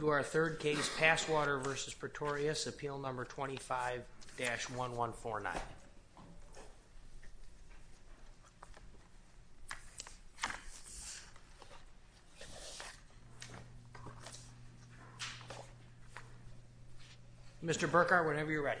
to our third case, Passwater v. Pretorius, Appeal No. 25-1149. Mr. Burkhart, whenever you're ready.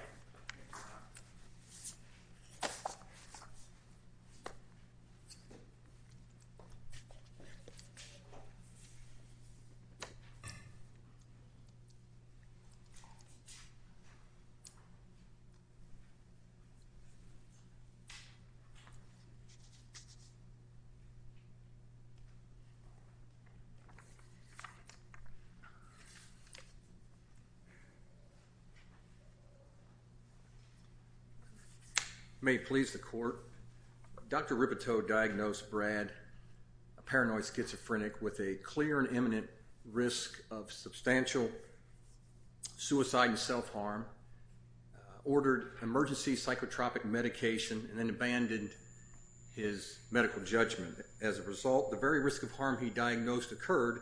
May it please the court, Dr. Ribiteau diagnosed Brad, a paranoid schizophrenic, with a clear and imminent risk of substantial suicide and self-harm, ordered emergency psychotropic medication, and then abandoned his medical judgment. As a result, the very risk of harm he diagnosed occurred,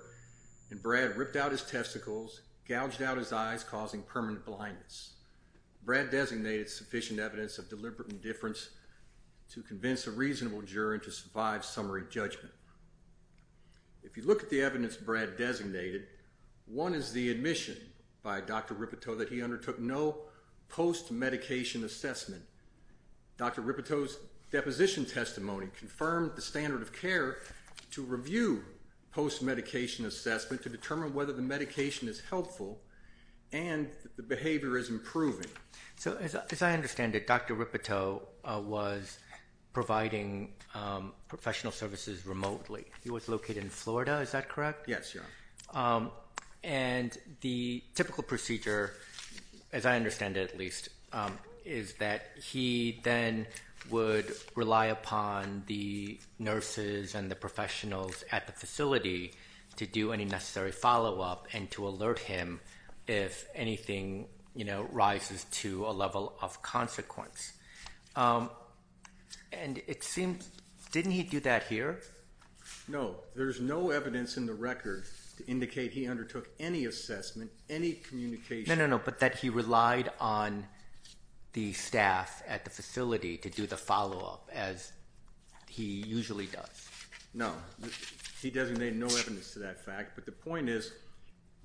and Brad ripped out his testicles, gouged out his eyes, causing permanent blindness. Brad designated sufficient evidence of deliberate indifference to convince a reasonable juror to survive summary judgment. If you look at the evidence Brad designated, one is the admission by Dr. Ribiteau that he undertook no post-medication assessment. Dr. Ribiteau's deposition testimony confirmed the standard of care to review post-medication assessment to determine whether the medication is helpful and the behavior is improving. So, as I understand it, Dr. Ribiteau was providing professional services remotely. He was located in Florida, is that correct? Yes, Your Honor. And the typical procedure, as I understand it at least, is that he then would rely upon the nurses and the professionals at the facility to do any necessary follow-up and to alert him if anything, you know, rises to a level of consequence. And it seems, didn't he do that here? No. There's no evidence in the record to indicate he undertook any assessment, any communication. No, no, no, but that he relied on the staff at the facility to do the follow-up as he usually does. No. He designated no evidence to that fact, but the point is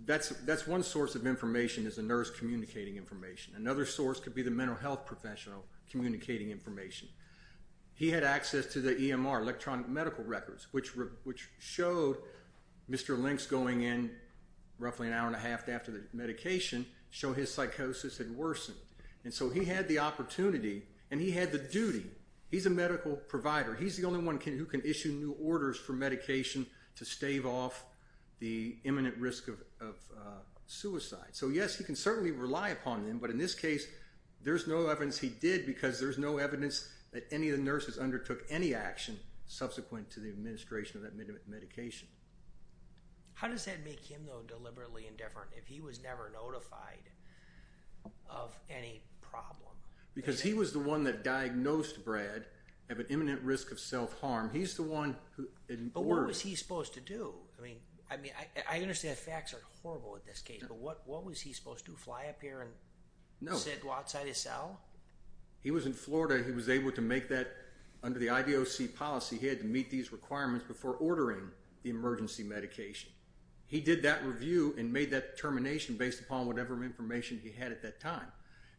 that's one source of information is the nurse communicating information. Another source could be the mental health professional communicating information. He had access to the EMR, electronic medical records, which showed Mr. Link's going in roughly an hour and a half after the medication, show his psychosis had worsened. And so he had the opportunity and he had the duty. He's a medical provider. He's the only one who can issue new orders for medication to stave off the imminent risk of suicide. So yes, he can certainly rely upon them, but in this case, there's no evidence he did because there's no evidence that any of the nurses undertook any action subsequent to the administration of that medication. How does that make him though deliberately indifferent if he was never notified of any problem? Because he was the one that diagnosed Brad of an imminent risk of self-harm. He's the one who... But what was he supposed to do? I mean, I mean, I understand the facts are horrible in this case, but what was he supposed to do, fly up here and sit outside his cell? He was in Florida. He was able to make that under the IDOC policy. He had to meet these requirements before ordering the emergency medication. He did that review and made that determination based upon whatever information he had at that time.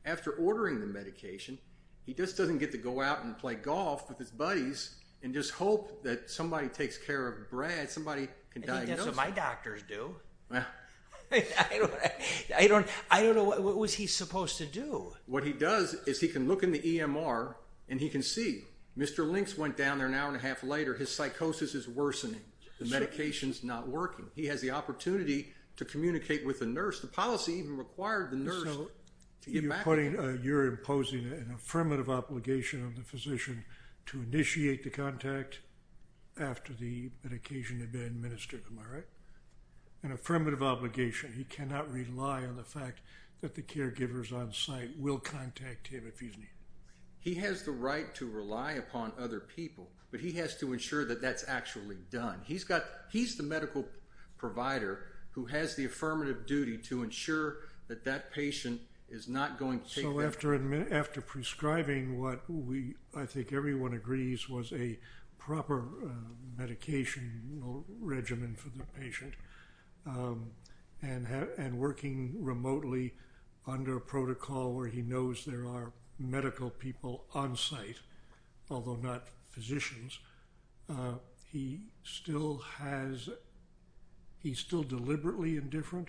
After ordering the medication, he just doesn't get to go out and play golf with his buddies and just hope that somebody takes care of Brad. Somebody can diagnose him. My doctors do. Well. I don't know. I don't know. What was he supposed to do? What he does is he can look in the EMR and he can see. Mr. Links went down there an hour and a half later. His psychosis is worsening. The medication's not working. He has the opportunity to communicate with a nurse. The policy even required the nurse to get back to him. You're imposing an affirmative obligation on the physician to initiate the contact after the medication had been administered. Am I right? An affirmative obligation. He cannot rely on the fact that the caregivers on site will contact him if he's needed. He has the right to rely upon other people, but he has to ensure that that's actually done. He's the medical provider who has the affirmative duty to ensure that that patient is not going to take that. So after prescribing what I think everyone agrees was a proper medication regimen for a patient and working remotely under a protocol where he knows there are medical people on site, although not physicians, he still has, he's still deliberately indifferent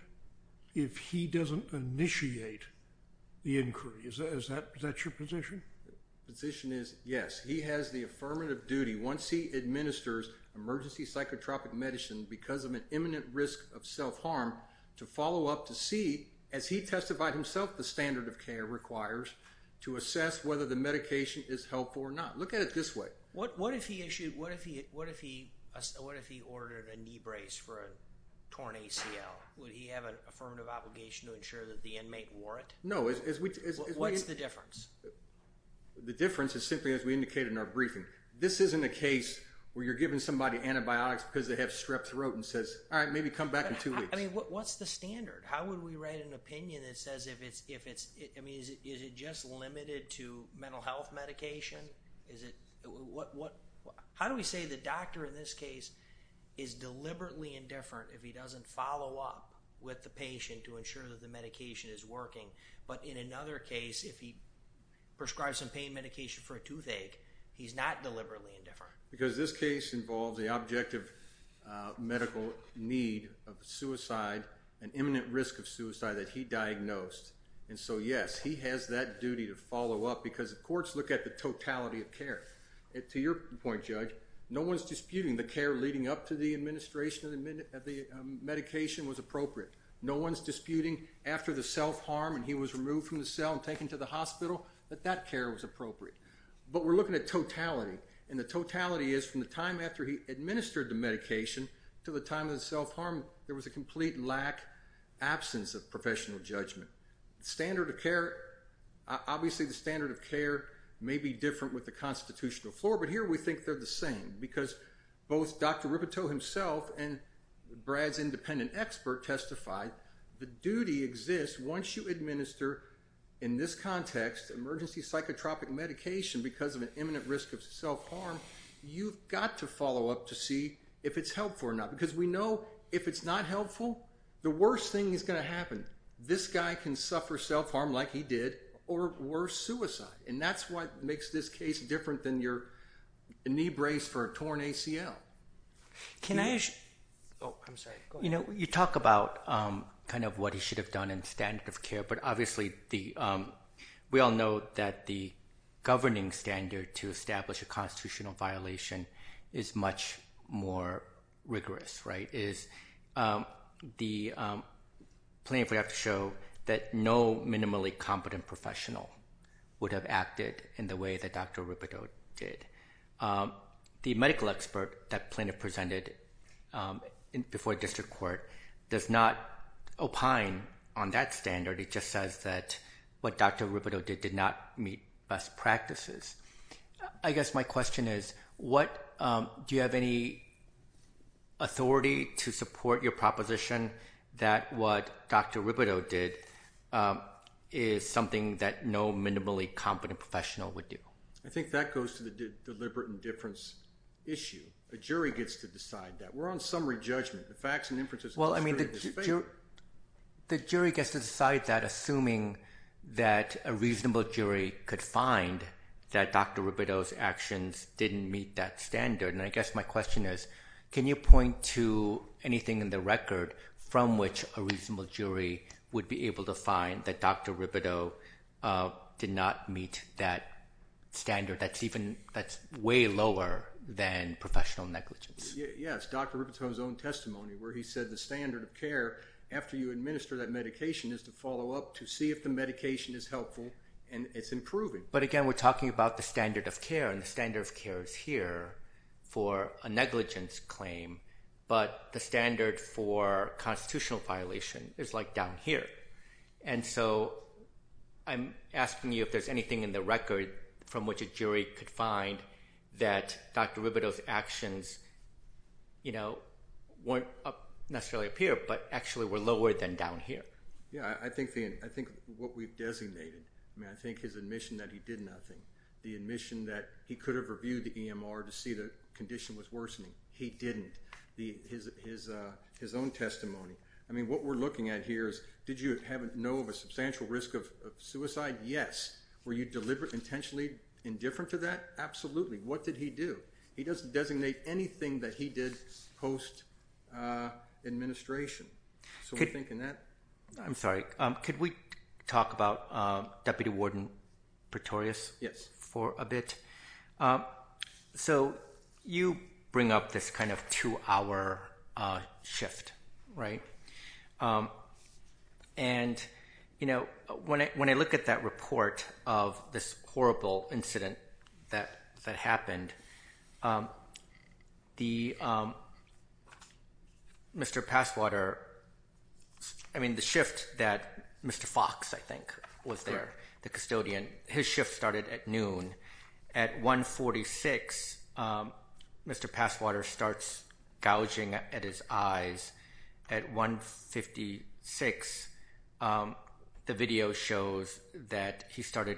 if he doesn't initiate the inquiry. Is that your position? Position is yes. He has the affirmative duty. Once he administers emergency psychotropic medicine because of an imminent risk of self-harm to follow up to see as he testified himself, the standard of care requires to assess whether the medication is helpful or not. Look at it this way. What, what if he issued, what if he, what if he, what if he ordered a knee brace for a torn ACL? Would he have an affirmative obligation to ensure that the inmate wore it? No. What is the difference? The difference is simply as we indicated in our briefing. This isn't a case where you're giving somebody antibiotics because they have strep throat and says, all right, maybe come back in two weeks. What's the standard? How would we write an opinion that says if it's, if it's, I mean, is it, is it just limited to mental health medication? Is it what, what, how do we say the doctor in this case is deliberately indifferent if he doesn't follow up with the patient to ensure that the medication is working? But in another case, if he prescribed some pain medication for a toothache, he's not deliberately indifferent. Because this case involves the objective medical need of suicide, an imminent risk of suicide that he diagnosed. And so yes, he has that duty to follow up because the courts look at the totality of care. And to your point, Judge, no one's disputing the care leading up to the administration of the medication was appropriate. No one's disputing after the self-harm and he was removed from the cell and taken to the hospital, that that care was appropriate. But we're looking at totality and the totality is from the time after he administered the medication to the time of the self-harm, there was a complete lack, absence of professional judgment. The standard of care, obviously the standard of care may be different with the constitutional floor, but here we think they're the same because both Dr. Ribbito himself and Brad's independent expert testified the duty exists once you administer, in this context, emergency psychotropic medication because of an imminent risk of self-harm, you've got to follow up to see if it's helpful or not. Because we know if it's not helpful, the worst thing is going to happen. This guy can suffer self-harm like he did or worse, suicide. And that's what makes this case different than your knee brace for a torn ACL. Can I? Oh, I'm sorry. Go ahead. You know, you talk about kind of what he should have done in standard of care, but obviously we all know that the governing standard to establish a constitutional violation is much more rigorous, right, is the plaintiff would have to show that no minimally competent professional would have acted in the way that Dr. Ribbito did. The medical expert that plaintiff presented before district court does not opine on that standard. It just says that what Dr. Ribbito did did not meet best practices. I guess my question is, do you have any authority to support your proposition that what Dr. Ribbito did is something that no minimally competent professional would do? I think that goes to the deliberate indifference issue. A jury gets to decide that. We're on summary judgment. The facts and inferences of the jury are the same. Well, I mean, the jury gets to decide that assuming that a reasonable jury could find that Dr. Ribbito's actions didn't meet that standard. And I guess my question is, can you point to anything in the record from which a reasonable that's way lower than professional negligence? Yes, Dr. Ribbito's own testimony where he said the standard of care after you administer that medication is to follow up to see if the medication is helpful and it's improving. But again, we're talking about the standard of care, and the standard of care is here for a negligence claim, but the standard for constitutional violation is like down here. And so I'm asking you if there's anything in the record from which a jury could find that Dr. Ribbito's actions weren't necessarily up here, but actually were lower than down here. Yeah, I think what we've designated. I mean, I think his admission that he did nothing. The admission that he could have reviewed the EMR to see the condition was worsening. He didn't. His own testimony. I mean, what we're looking at here is, did you know of a substantial risk of suicide? Yes. Were you intentionally indifferent to that? Absolutely. What did he do? He doesn't designate anything that he did post-administration. So I'm thinking that. I'm sorry. Could we talk about Deputy Warden Pretorius for a bit? So you bring up this kind of two-hour shift, right? And when I look at that report of this horrible incident that happened, the shift that Mr. Fox, I think, was there, the custodian, his shift started at noon, at 146, Mr. Passwater starts gouging at his eyes. At 156, the video shows that he started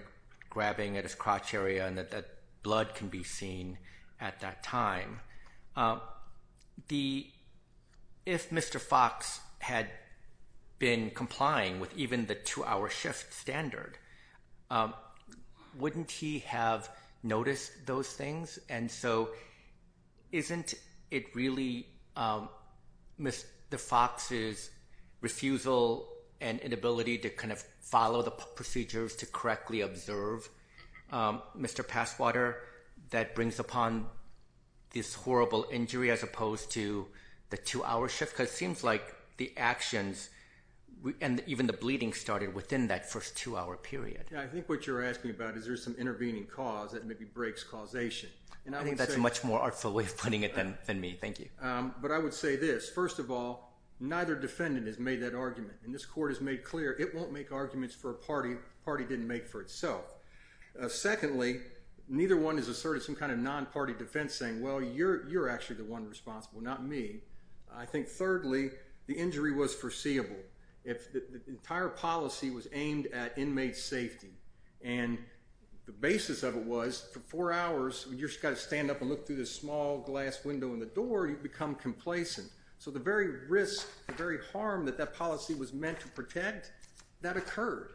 grabbing at his crotch area and that blood can be seen at that time. If Mr. Fox had been complying with even the two-hour shift standard, wouldn't he have noticed those things? And so isn't it really the fox's refusal and inability to kind of follow the procedures to correctly observe Mr. Passwater that brings upon this horrible injury as opposed to the two-hour shift? Because it seems like the actions and even the bleeding started within that first two-hour period. Yeah, I think what you're asking about is there's some intervening cause that maybe breaks causation. I think that's a much more artful way of putting it than me. Thank you. But I would say this. First of all, neither defendant has made that argument. And this court has made clear it won't make arguments for a party the party didn't make for itself. Secondly, neither one has asserted some kind of non-party defense saying, well, you're actually the one responsible, not me. I think thirdly, the injury was foreseeable. The entire policy was aimed at inmate safety. And the basis of it was for four hours, you just got to stand up and look through this small glass window in the door, you become complacent. So the very risk, the very harm that that policy was meant to protect, that occurred.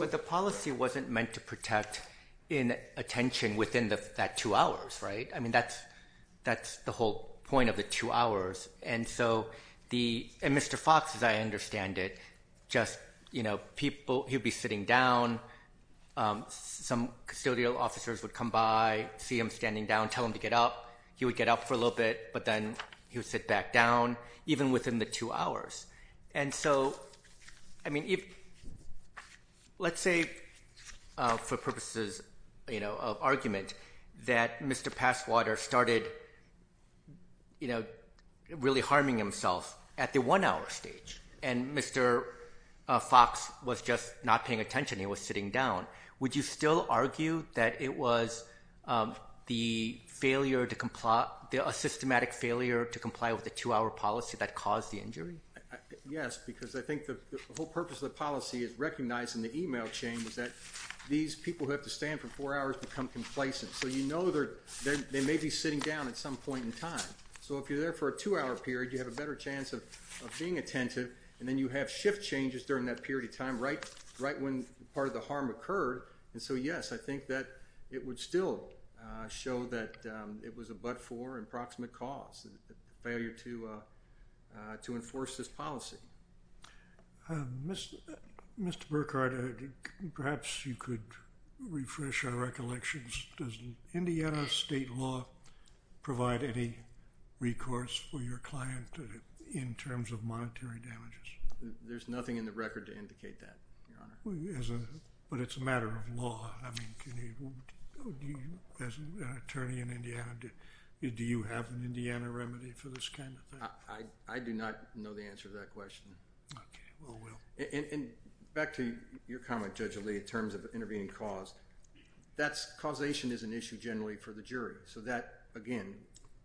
But the policy wasn't meant to protect inattention within that two hours, right? I mean, that's the whole point of the two hours. And Mr. Fox, as I understand it, just people, he'd be sitting down, some custodial officers would come by, see him standing down, tell him to get up. He would get up for a little bit, but then he would sit back down, even within the two hours. And so, I mean, let's say for purposes of argument that Mr. Passwater started really harming himself at the one-hour stage, and Mr. Fox was just not paying attention, he was sitting down. Would you still argue that it was the failure to comply, a systematic failure to comply with the two-hour policy that caused the injury? Yes, because I think the whole purpose of the policy is recognizing the email chain, is that these people who have to stand for four hours become complacent. So you know they may be sitting down at some point in time. So if you're there for a two-hour period, you have a better chance of being attentive, and then you have shift changes during that period of time right when part of the harm occurred. And so yes, I think that it would still show that it was a but-for, approximate cause, failure to enforce this policy. Mr. Burkhardt, perhaps you could refresh our recollections. Does Indiana state law provide any recourse for your client in terms of monetary damages? There's nothing in the record to indicate that, Your Honor. But it's a matter of law. As an attorney in Indiana, do you have an Indiana remedy for this kind of thing? I do not know the answer to that question. Okay, well, well. And back to your comment, Judge Ali, in terms of intervening cause, causation is an issue generally for the jury. So that, again,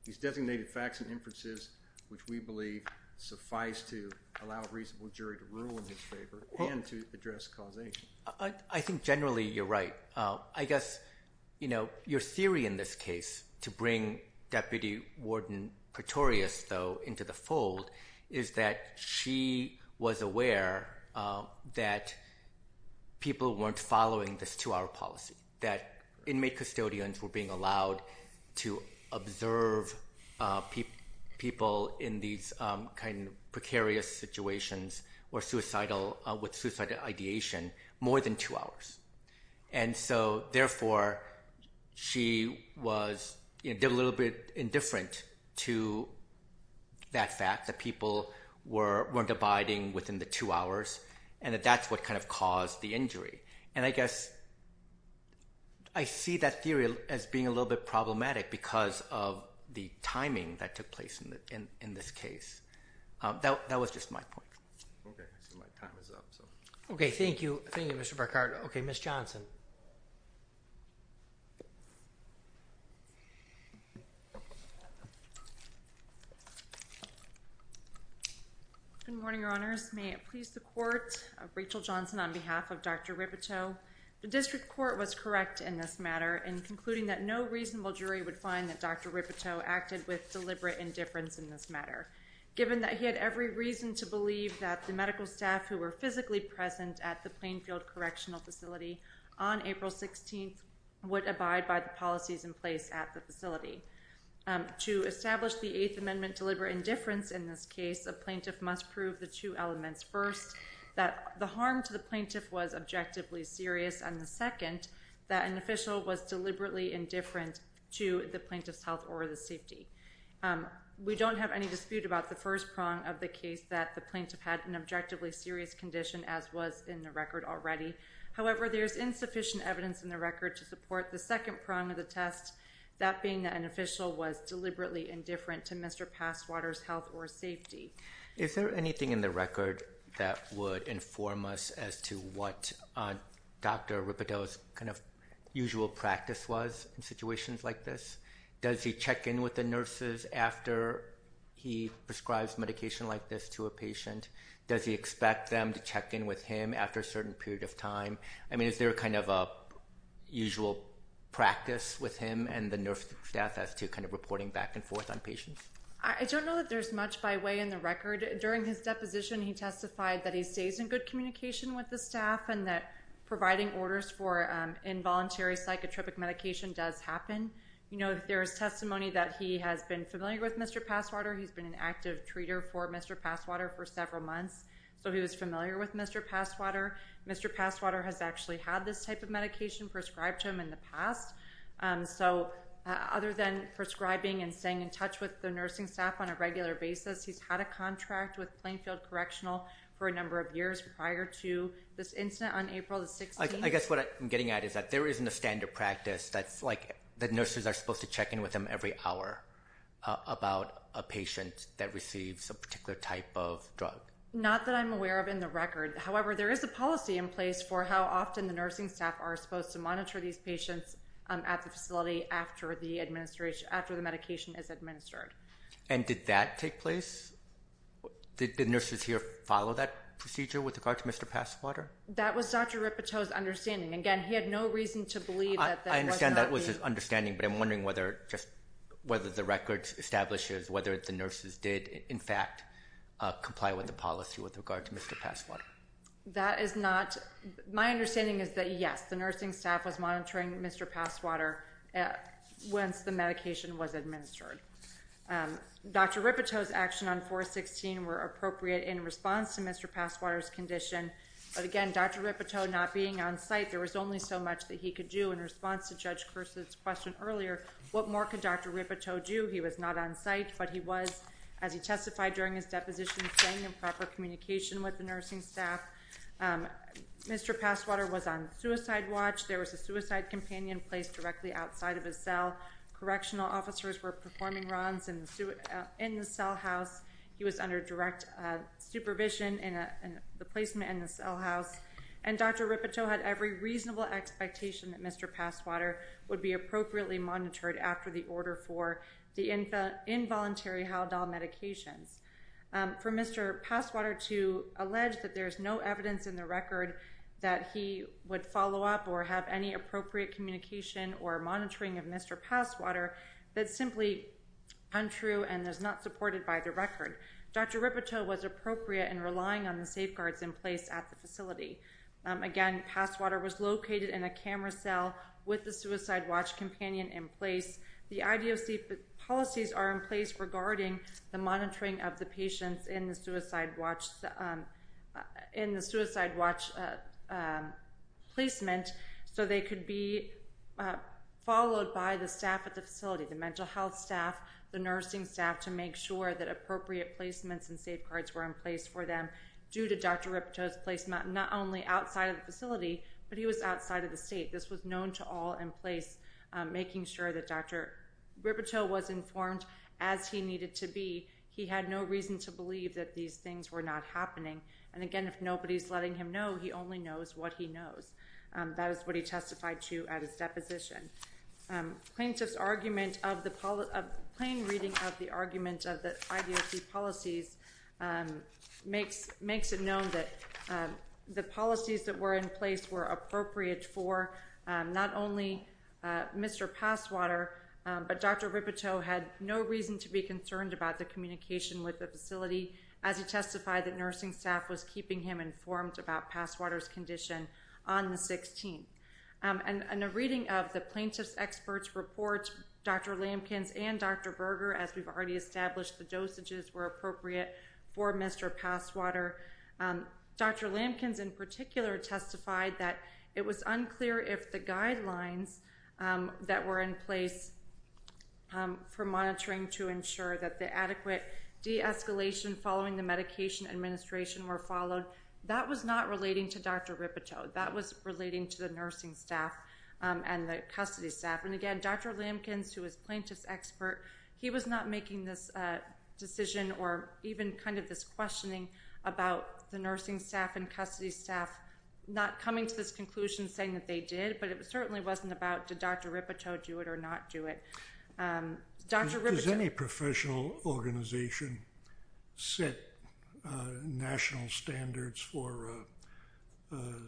these designated facts and inferences, which we believe suffice to allow a reasonable jury to rule in his favor and to address causation. I think generally you're right. I guess your theory in this case, to bring Deputy Warden Pretorius, though, into the fold, is that she was aware that people weren't following this two-hour policy, that inmate custodians were being allowed to observe people in these precarious situations with suicidal ideation more than two hours. And so, therefore, she was a little bit indifferent to that fact that people weren't abiding within the two hours, and that that's what kind of caused the injury. And I guess I see that theory as being a little bit problematic because of the timing that took place in this case. That was just my point. Okay, so my time is up. Okay, thank you. Thank you, Mr. Burkhart. Okay, Ms. Johnson. Good morning, Your Honors. May it please the Court of Rachel Johnson on behalf of Dr. Rippetoe. The district court was correct in this matter in concluding that no reasonable jury would find that Dr. Rippetoe acted with deliberate indifference in this matter. Given that he had every reason to believe that the medical staff who were physically present at the Plainfield Correctional Facility on April 16th would abide by the policies in place at the facility. To establish the Eighth Amendment deliberate indifference in this case, a plaintiff must prove the two elements. First, that the harm to the plaintiff was objectively serious. And the second, that an official was deliberately indifferent to the plaintiff's health or the safety. We don't have any dispute about the first prong of the case, that the plaintiff had an objectively serious condition, as was in the record already. However, there is insufficient evidence in the record to support the second prong of the test, that being that an official was deliberately indifferent to Mr. Passwater's health or safety. Is there anything in the record that would inform us as to what Dr. Rippetoe's kind of usual practice was in situations like this? Does he check in with the nurses after he prescribes medication like this to a patient? Does he expect them to check in with him after a certain period of time? I mean, is there kind of a usual practice with him and the nurse staff as to kind of reporting back and forth on patients? I don't know that there's much by way in the record. During his deposition, he testified that he stays in good communication with the staff and that providing orders for involuntary psychotropic medication does happen. You know, there is testimony that he has been familiar with Mr. Passwater. He's been an active treater for Mr. Passwater for several months, so he was familiar with Mr. Passwater. Mr. Passwater has actually had this type of medication prescribed to him in the past. So other than prescribing and staying in touch with the nursing staff on a regular basis, he's had a contract with Plainfield Correctional for a number of years prior to this incident on April the 16th. I guess what I'm getting at is that there isn't a standard practice that's like the nurses are supposed to check in with him every hour about a patient that receives a particular type of drug. Not that I'm aware of in the record. However, there is a policy in place for how often the nursing staff are supposed to monitor these patients at the facility after the medication is administered. And did that take place? Did the nurses here follow that procedure with regard to Mr. Passwater? That was Dr. Ripoteau's understanding. Again, he had no reason to believe that that was not the... I understand that was his understanding, but I'm wondering whether the record establishes whether the nurses did, in fact, comply with the policy with regard to Mr. Passwater. That is not. My understanding is that, yes, the nursing staff was monitoring Mr. Passwater once the medication was administered. Dr. Ripoteau's actions on 4-16 were appropriate in response to Mr. Passwater's condition. But, again, Dr. Ripoteau not being on site, there was only so much that he could do. In response to Judge Kirsten's question earlier, what more could Dr. Ripoteau do? He was not on site, but he was, as he testified during his deposition, staying in proper communication with the nursing staff. Mr. Passwater was on suicide watch. There was a suicide companion placed directly outside of his cell. Correctional officers were performing runs in the cell house. He was under direct supervision in the placement in the cell house. And Dr. Ripoteau had every reasonable expectation that Mr. Passwater would be appropriately monitored after the order for the involuntary Haldol medications. For Mr. Passwater to allege that there is no evidence in the record that he would follow up or have any appropriate communication or monitoring of Mr. Passwater, that's simply untrue and is not supported by the record. Dr. Ripoteau was appropriate in relying on the safeguards in place at the facility. Again, Passwater was located in a camera cell with the suicide watch companion in place. The IDOC policies are in place regarding the monitoring of the patients in the suicide watch placement, so they could be followed by the staff at the facility, the mental health staff, the nursing staff, to make sure that appropriate placements and safeguards were in place for them due to Dr. Ripoteau's placement, not only outside of the facility, but he was outside of the state. This was known to all in place, making sure that Dr. Ripoteau was informed as he needed to be. He had no reason to believe that these things were not happening. And again, if nobody is letting him know, he only knows what he knows. That is what he testified to at his deposition. Plaintiff's plain reading of the argument of the IDOC policies makes it known that the policies that were in place were appropriate for not only Mr. Passwater, but Dr. Ripoteau had no reason to be concerned about the communication with the facility as he testified that nursing staff was keeping him informed about Passwater's condition on the 16th. And a reading of the plaintiff's expert's report, Dr. Lampkins and Dr. Berger, as we've already established, the dosages were appropriate for Mr. Passwater. Dr. Lampkins in particular testified that it was unclear if the guidelines that were in place for monitoring to ensure that the adequate de-escalation following the medication administration were followed. That was not relating to Dr. Ripoteau. That was relating to the nursing staff and the custody staff. And again, Dr. Lampkins, who was plaintiff's expert, he was not making this decision or even kind of this questioning about the nursing staff and custody staff not coming to this conclusion saying that they did, but it certainly wasn't about did Dr. Ripoteau do it or not do it. Does any professional organization set national standards for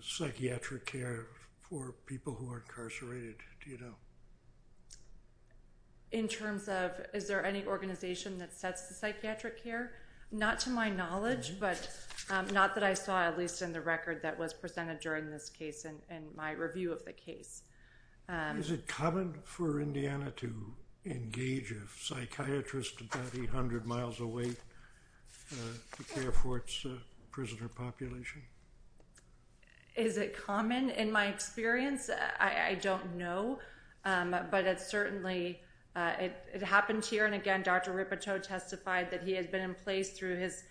psychiatric care for people who are incarcerated? Do you know? In terms of is there any organization that sets the psychiatric care? Not to my knowledge, but not that I saw, at least in the record that was presented during this case and my review of the case. Is it common for Indiana to engage a psychiatrist about 800 miles away to care for its prisoner population? Is it common in my experience? I don't know. But it certainly happened here, and again, Dr. Ripoteau testified that he had been in place through his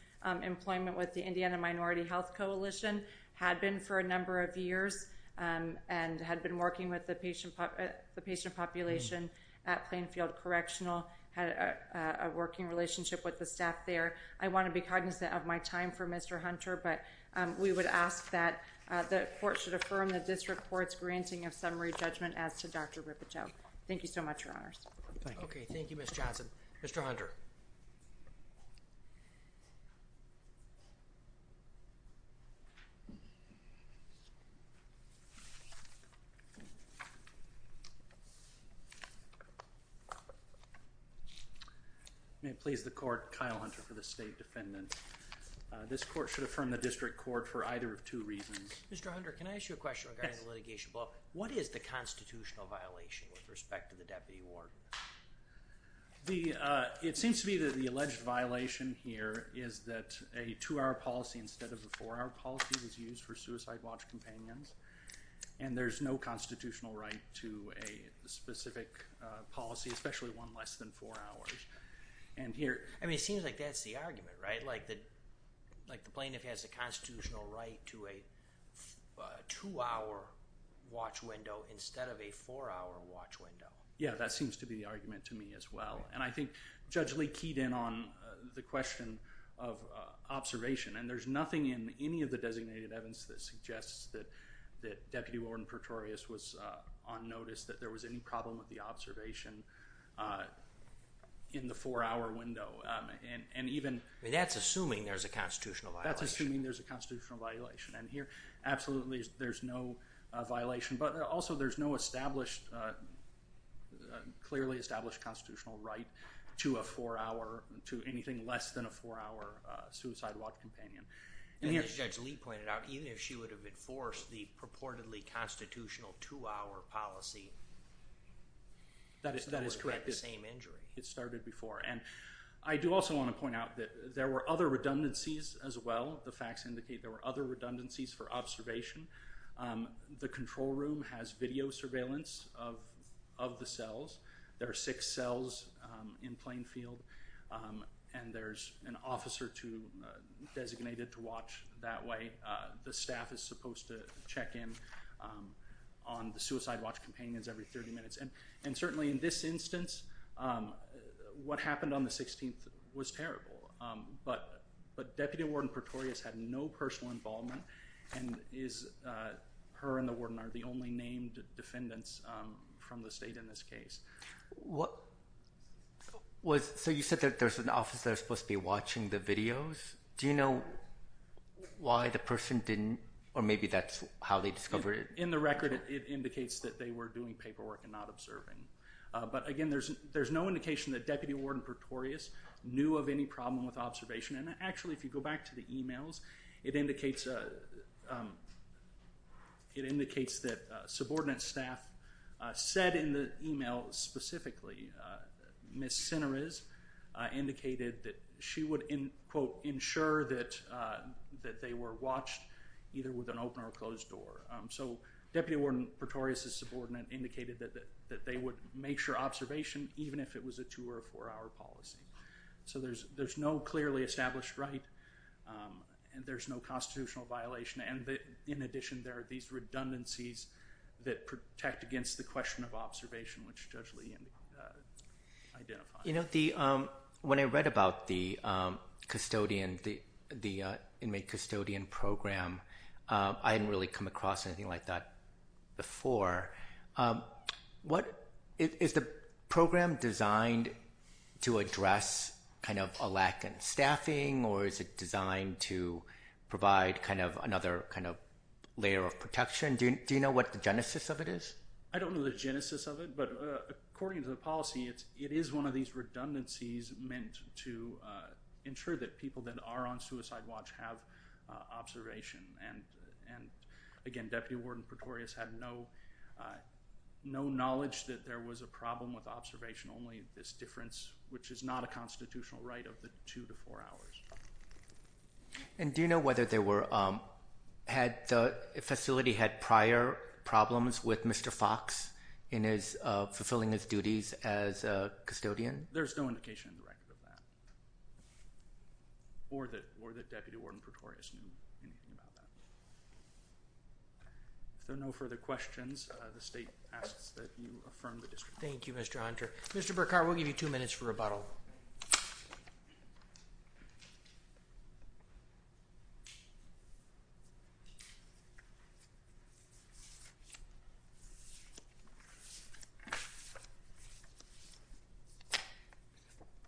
employment with the Indiana Minority Health Coalition, had been for a number of years, and had been working with the patient population at Plainfield Correctional, had a working relationship with the staff there. I want to be cognizant of my time for Mr. Hunter, but we would ask that the court should affirm that this report's granting of summary judgment as to Dr. Ripoteau. Thank you so much, Your Honors. Okay. Thank you, Ms. Johnson. Mr. Hunter. May it please the court, Kyle Hunter for the State Defendant. This court should affirm the district court for either of two reasons. Mr. Hunter, can I ask you a question regarding the litigation? What is the constitutional violation with respect to the deputy warden? It seems to be that the alleged violation here is that a two-hour policy instead of a four-hour policy was used for suicide watch companions, and there's no constitutional right to a specific policy, especially one less than four hours. I mean, it seems like that's the argument, right? Like the plaintiff has a constitutional right to a two-hour watch window instead of a four-hour watch window. Yeah, that seems to be the argument to me as well. And I think Judge Lee keyed in on the question of observation, and there's nothing in any of the designated evidence that suggests that Deputy Warden Pretorius was on notice, that there was any problem with the observation in the four-hour window. I mean, that's assuming there's a constitutional violation. That's assuming there's a constitutional violation. And here, absolutely, there's no violation. But also, there's no clearly established constitutional right to anything less than a four-hour suicide watch companion. And as Judge Lee pointed out, even if she would have enforced the purportedly constitutional two-hour policy, it still would have been the same injury. It started before. And I do also want to point out that there were other redundancies as well. The facts indicate there were other redundancies for observation. The control room has video surveillance of the cells. There are six cells in Plainfield, and there's an officer designated to watch that way. The staff is supposed to check in on the suicide watch companions every 30 minutes. And certainly, in this instance, what happened on the 16th was terrible. But Deputy Warden Pretorius had no personal involvement, and her and the warden are the only named defendants from the state in this case. So you said that there's an officer that's supposed to be watching the videos. Do you know why the person didn't, or maybe that's how they discovered it? In the record, it indicates that they were doing paperwork and not observing. But again, there's no indication that Deputy Warden Pretorius knew of any problem with observation. And actually, if you go back to the e-mails, it indicates that subordinate staff said in the e-mail specifically, Ms. Sinneres indicated that she would, quote, ensure that they were watched either with an open or closed door. So Deputy Warden Pretorius's subordinate indicated that they would make sure observation, even if it was a two- or four-hour policy. So there's no clearly established right, and there's no constitutional violation. And in addition, there are these redundancies that protect against the question of observation, which Judge Lee identified. You know, when I read about the custodian, the inmate custodian program, I hadn't really come across anything like that before. Is the program designed to address kind of a lack in staffing, or is it designed to provide kind of another kind of layer of protection? Do you know what the genesis of it is? I don't know the genesis of it, but according to the policy, it is one of these redundancies meant to ensure that people that are on suicide watch have observation. And, again, Deputy Warden Pretorius had no knowledge that there was a problem with observation, only this difference, which is not a constitutional right of the two to four hours. And do you know whether the facility had prior problems with Mr. Fox fulfilling his duties as a custodian? There's no indication in the record of that, or that Deputy Warden Pretorius knew anything about that. If there are no further questions, the State asks that you affirm the district. Thank you, Mr. Hunter. Mr. Burkhart, we'll give you two minutes for rebuttal.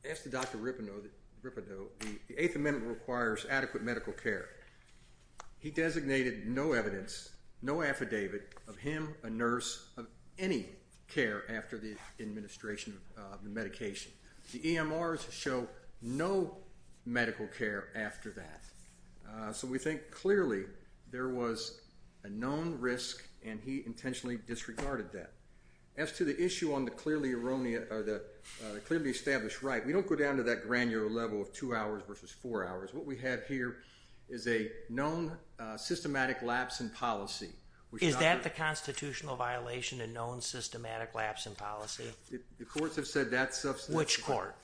As to Dr. Rippino, the Eighth Amendment requires adequate medical care. He designated no evidence, no affidavit of him, a nurse, of any care after the administration of the medication. The EMRs show no medical care after that. So we think clearly there was a known risk, and he intentionally disregarded that. As to the issue on the clearly established right, we don't go down to that granular level of two hours versus four hours. What we have here is a known systematic lapse in policy. Is that the constitutional violation, a known systematic lapse in policy? The courts have said that's substantive. Which court?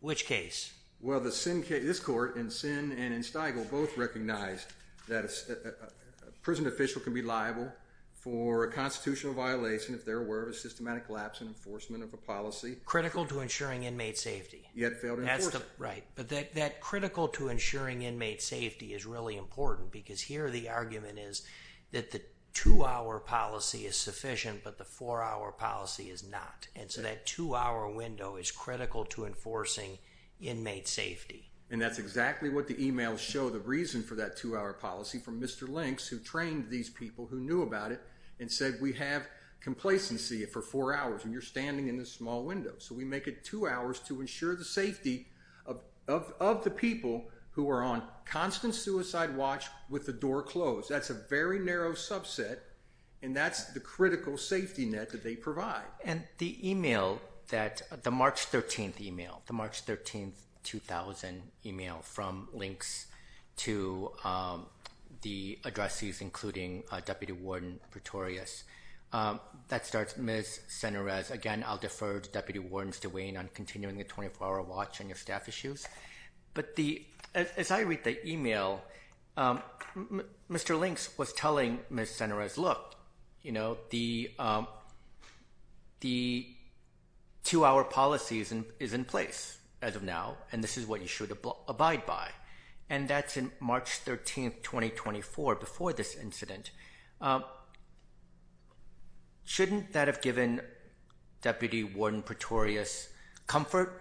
Which case? Well, this court in Sinn and in Steigel both recognized that a prison official can be liable for a constitutional violation if there were a systematic lapse in enforcement of a policy. Critical to ensuring inmate safety. Yet failed to enforce it. Right. But that critical to ensuring inmate safety is really important, because here the argument is that the two-hour policy is sufficient, but the four-hour policy is not. And so that two-hour window is critical to enforcing inmate safety. And that's exactly what the EMRs show. The reason for that two-hour policy from Mr. Links, who trained these people who knew about it, and said we have complacency for four hours, and you're standing in this small window. So we make it two hours to ensure the safety of the people who are on constant suicide watch with the door closed. That's a very narrow subset, and that's the critical safety net that they provide. And the email, the March 13th email, the March 13th, 2000 email from Links to the addressees, including Deputy Warden Pretorius, that starts Ms. Senares. Again, I'll defer to Deputy Warden DeWayne on continuing the 24-hour watch on your staff issues. But as I read the email, Mr. Links was telling Ms. Senares, look, the two-hour policy is in place as of now, and this is what you should abide by. And that's in March 13th, 2024, before this incident. Shouldn't that have given Deputy Warden Pretorius comfort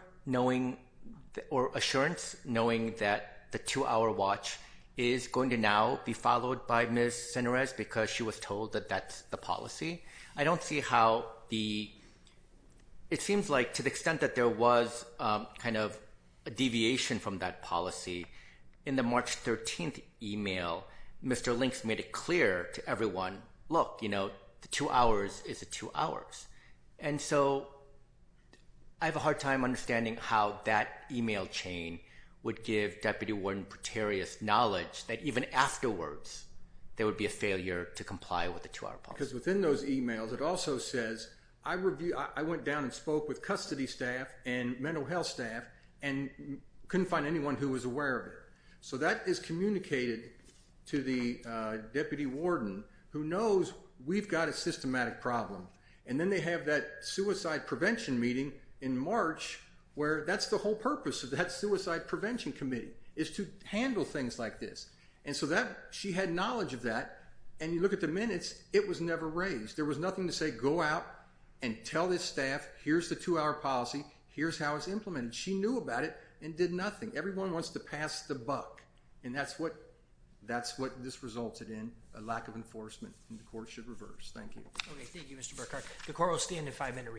or assurance knowing that the two-hour watch is going to now be followed by Ms. Senares because she was told that that's the policy? I don't see how the – it seems like to the extent that there was kind of a deviation from that policy, in the March 13th email, Mr. Links made it clear to everyone, look, you know, the two hours is the two hours. And so I have a hard time understanding how that email chain would give Deputy Warden Pretorius knowledge that even afterwards there would be a failure to comply with the two-hour policy. Because within those emails it also says, I went down and spoke with custody staff and mental health staff and couldn't find anyone who was aware of it. So that is communicated to the Deputy Warden who knows we've got a systematic problem. And then they have that suicide prevention meeting in March where that's the whole purpose of that suicide prevention committee, is to handle things like this. And so that – she had knowledge of that and you look at the minutes, it was never raised. There was nothing to say, go out and tell this staff, here's the two-hour policy, here's how it's implemented. She knew about it and did nothing. Everyone wants to pass the buck. And that's what – that's what this resulted in, a lack of enforcement. And the court should reverse. Thank you. Okay. Thank you, Mr. Burkhart. The court will stand in five-minute recess.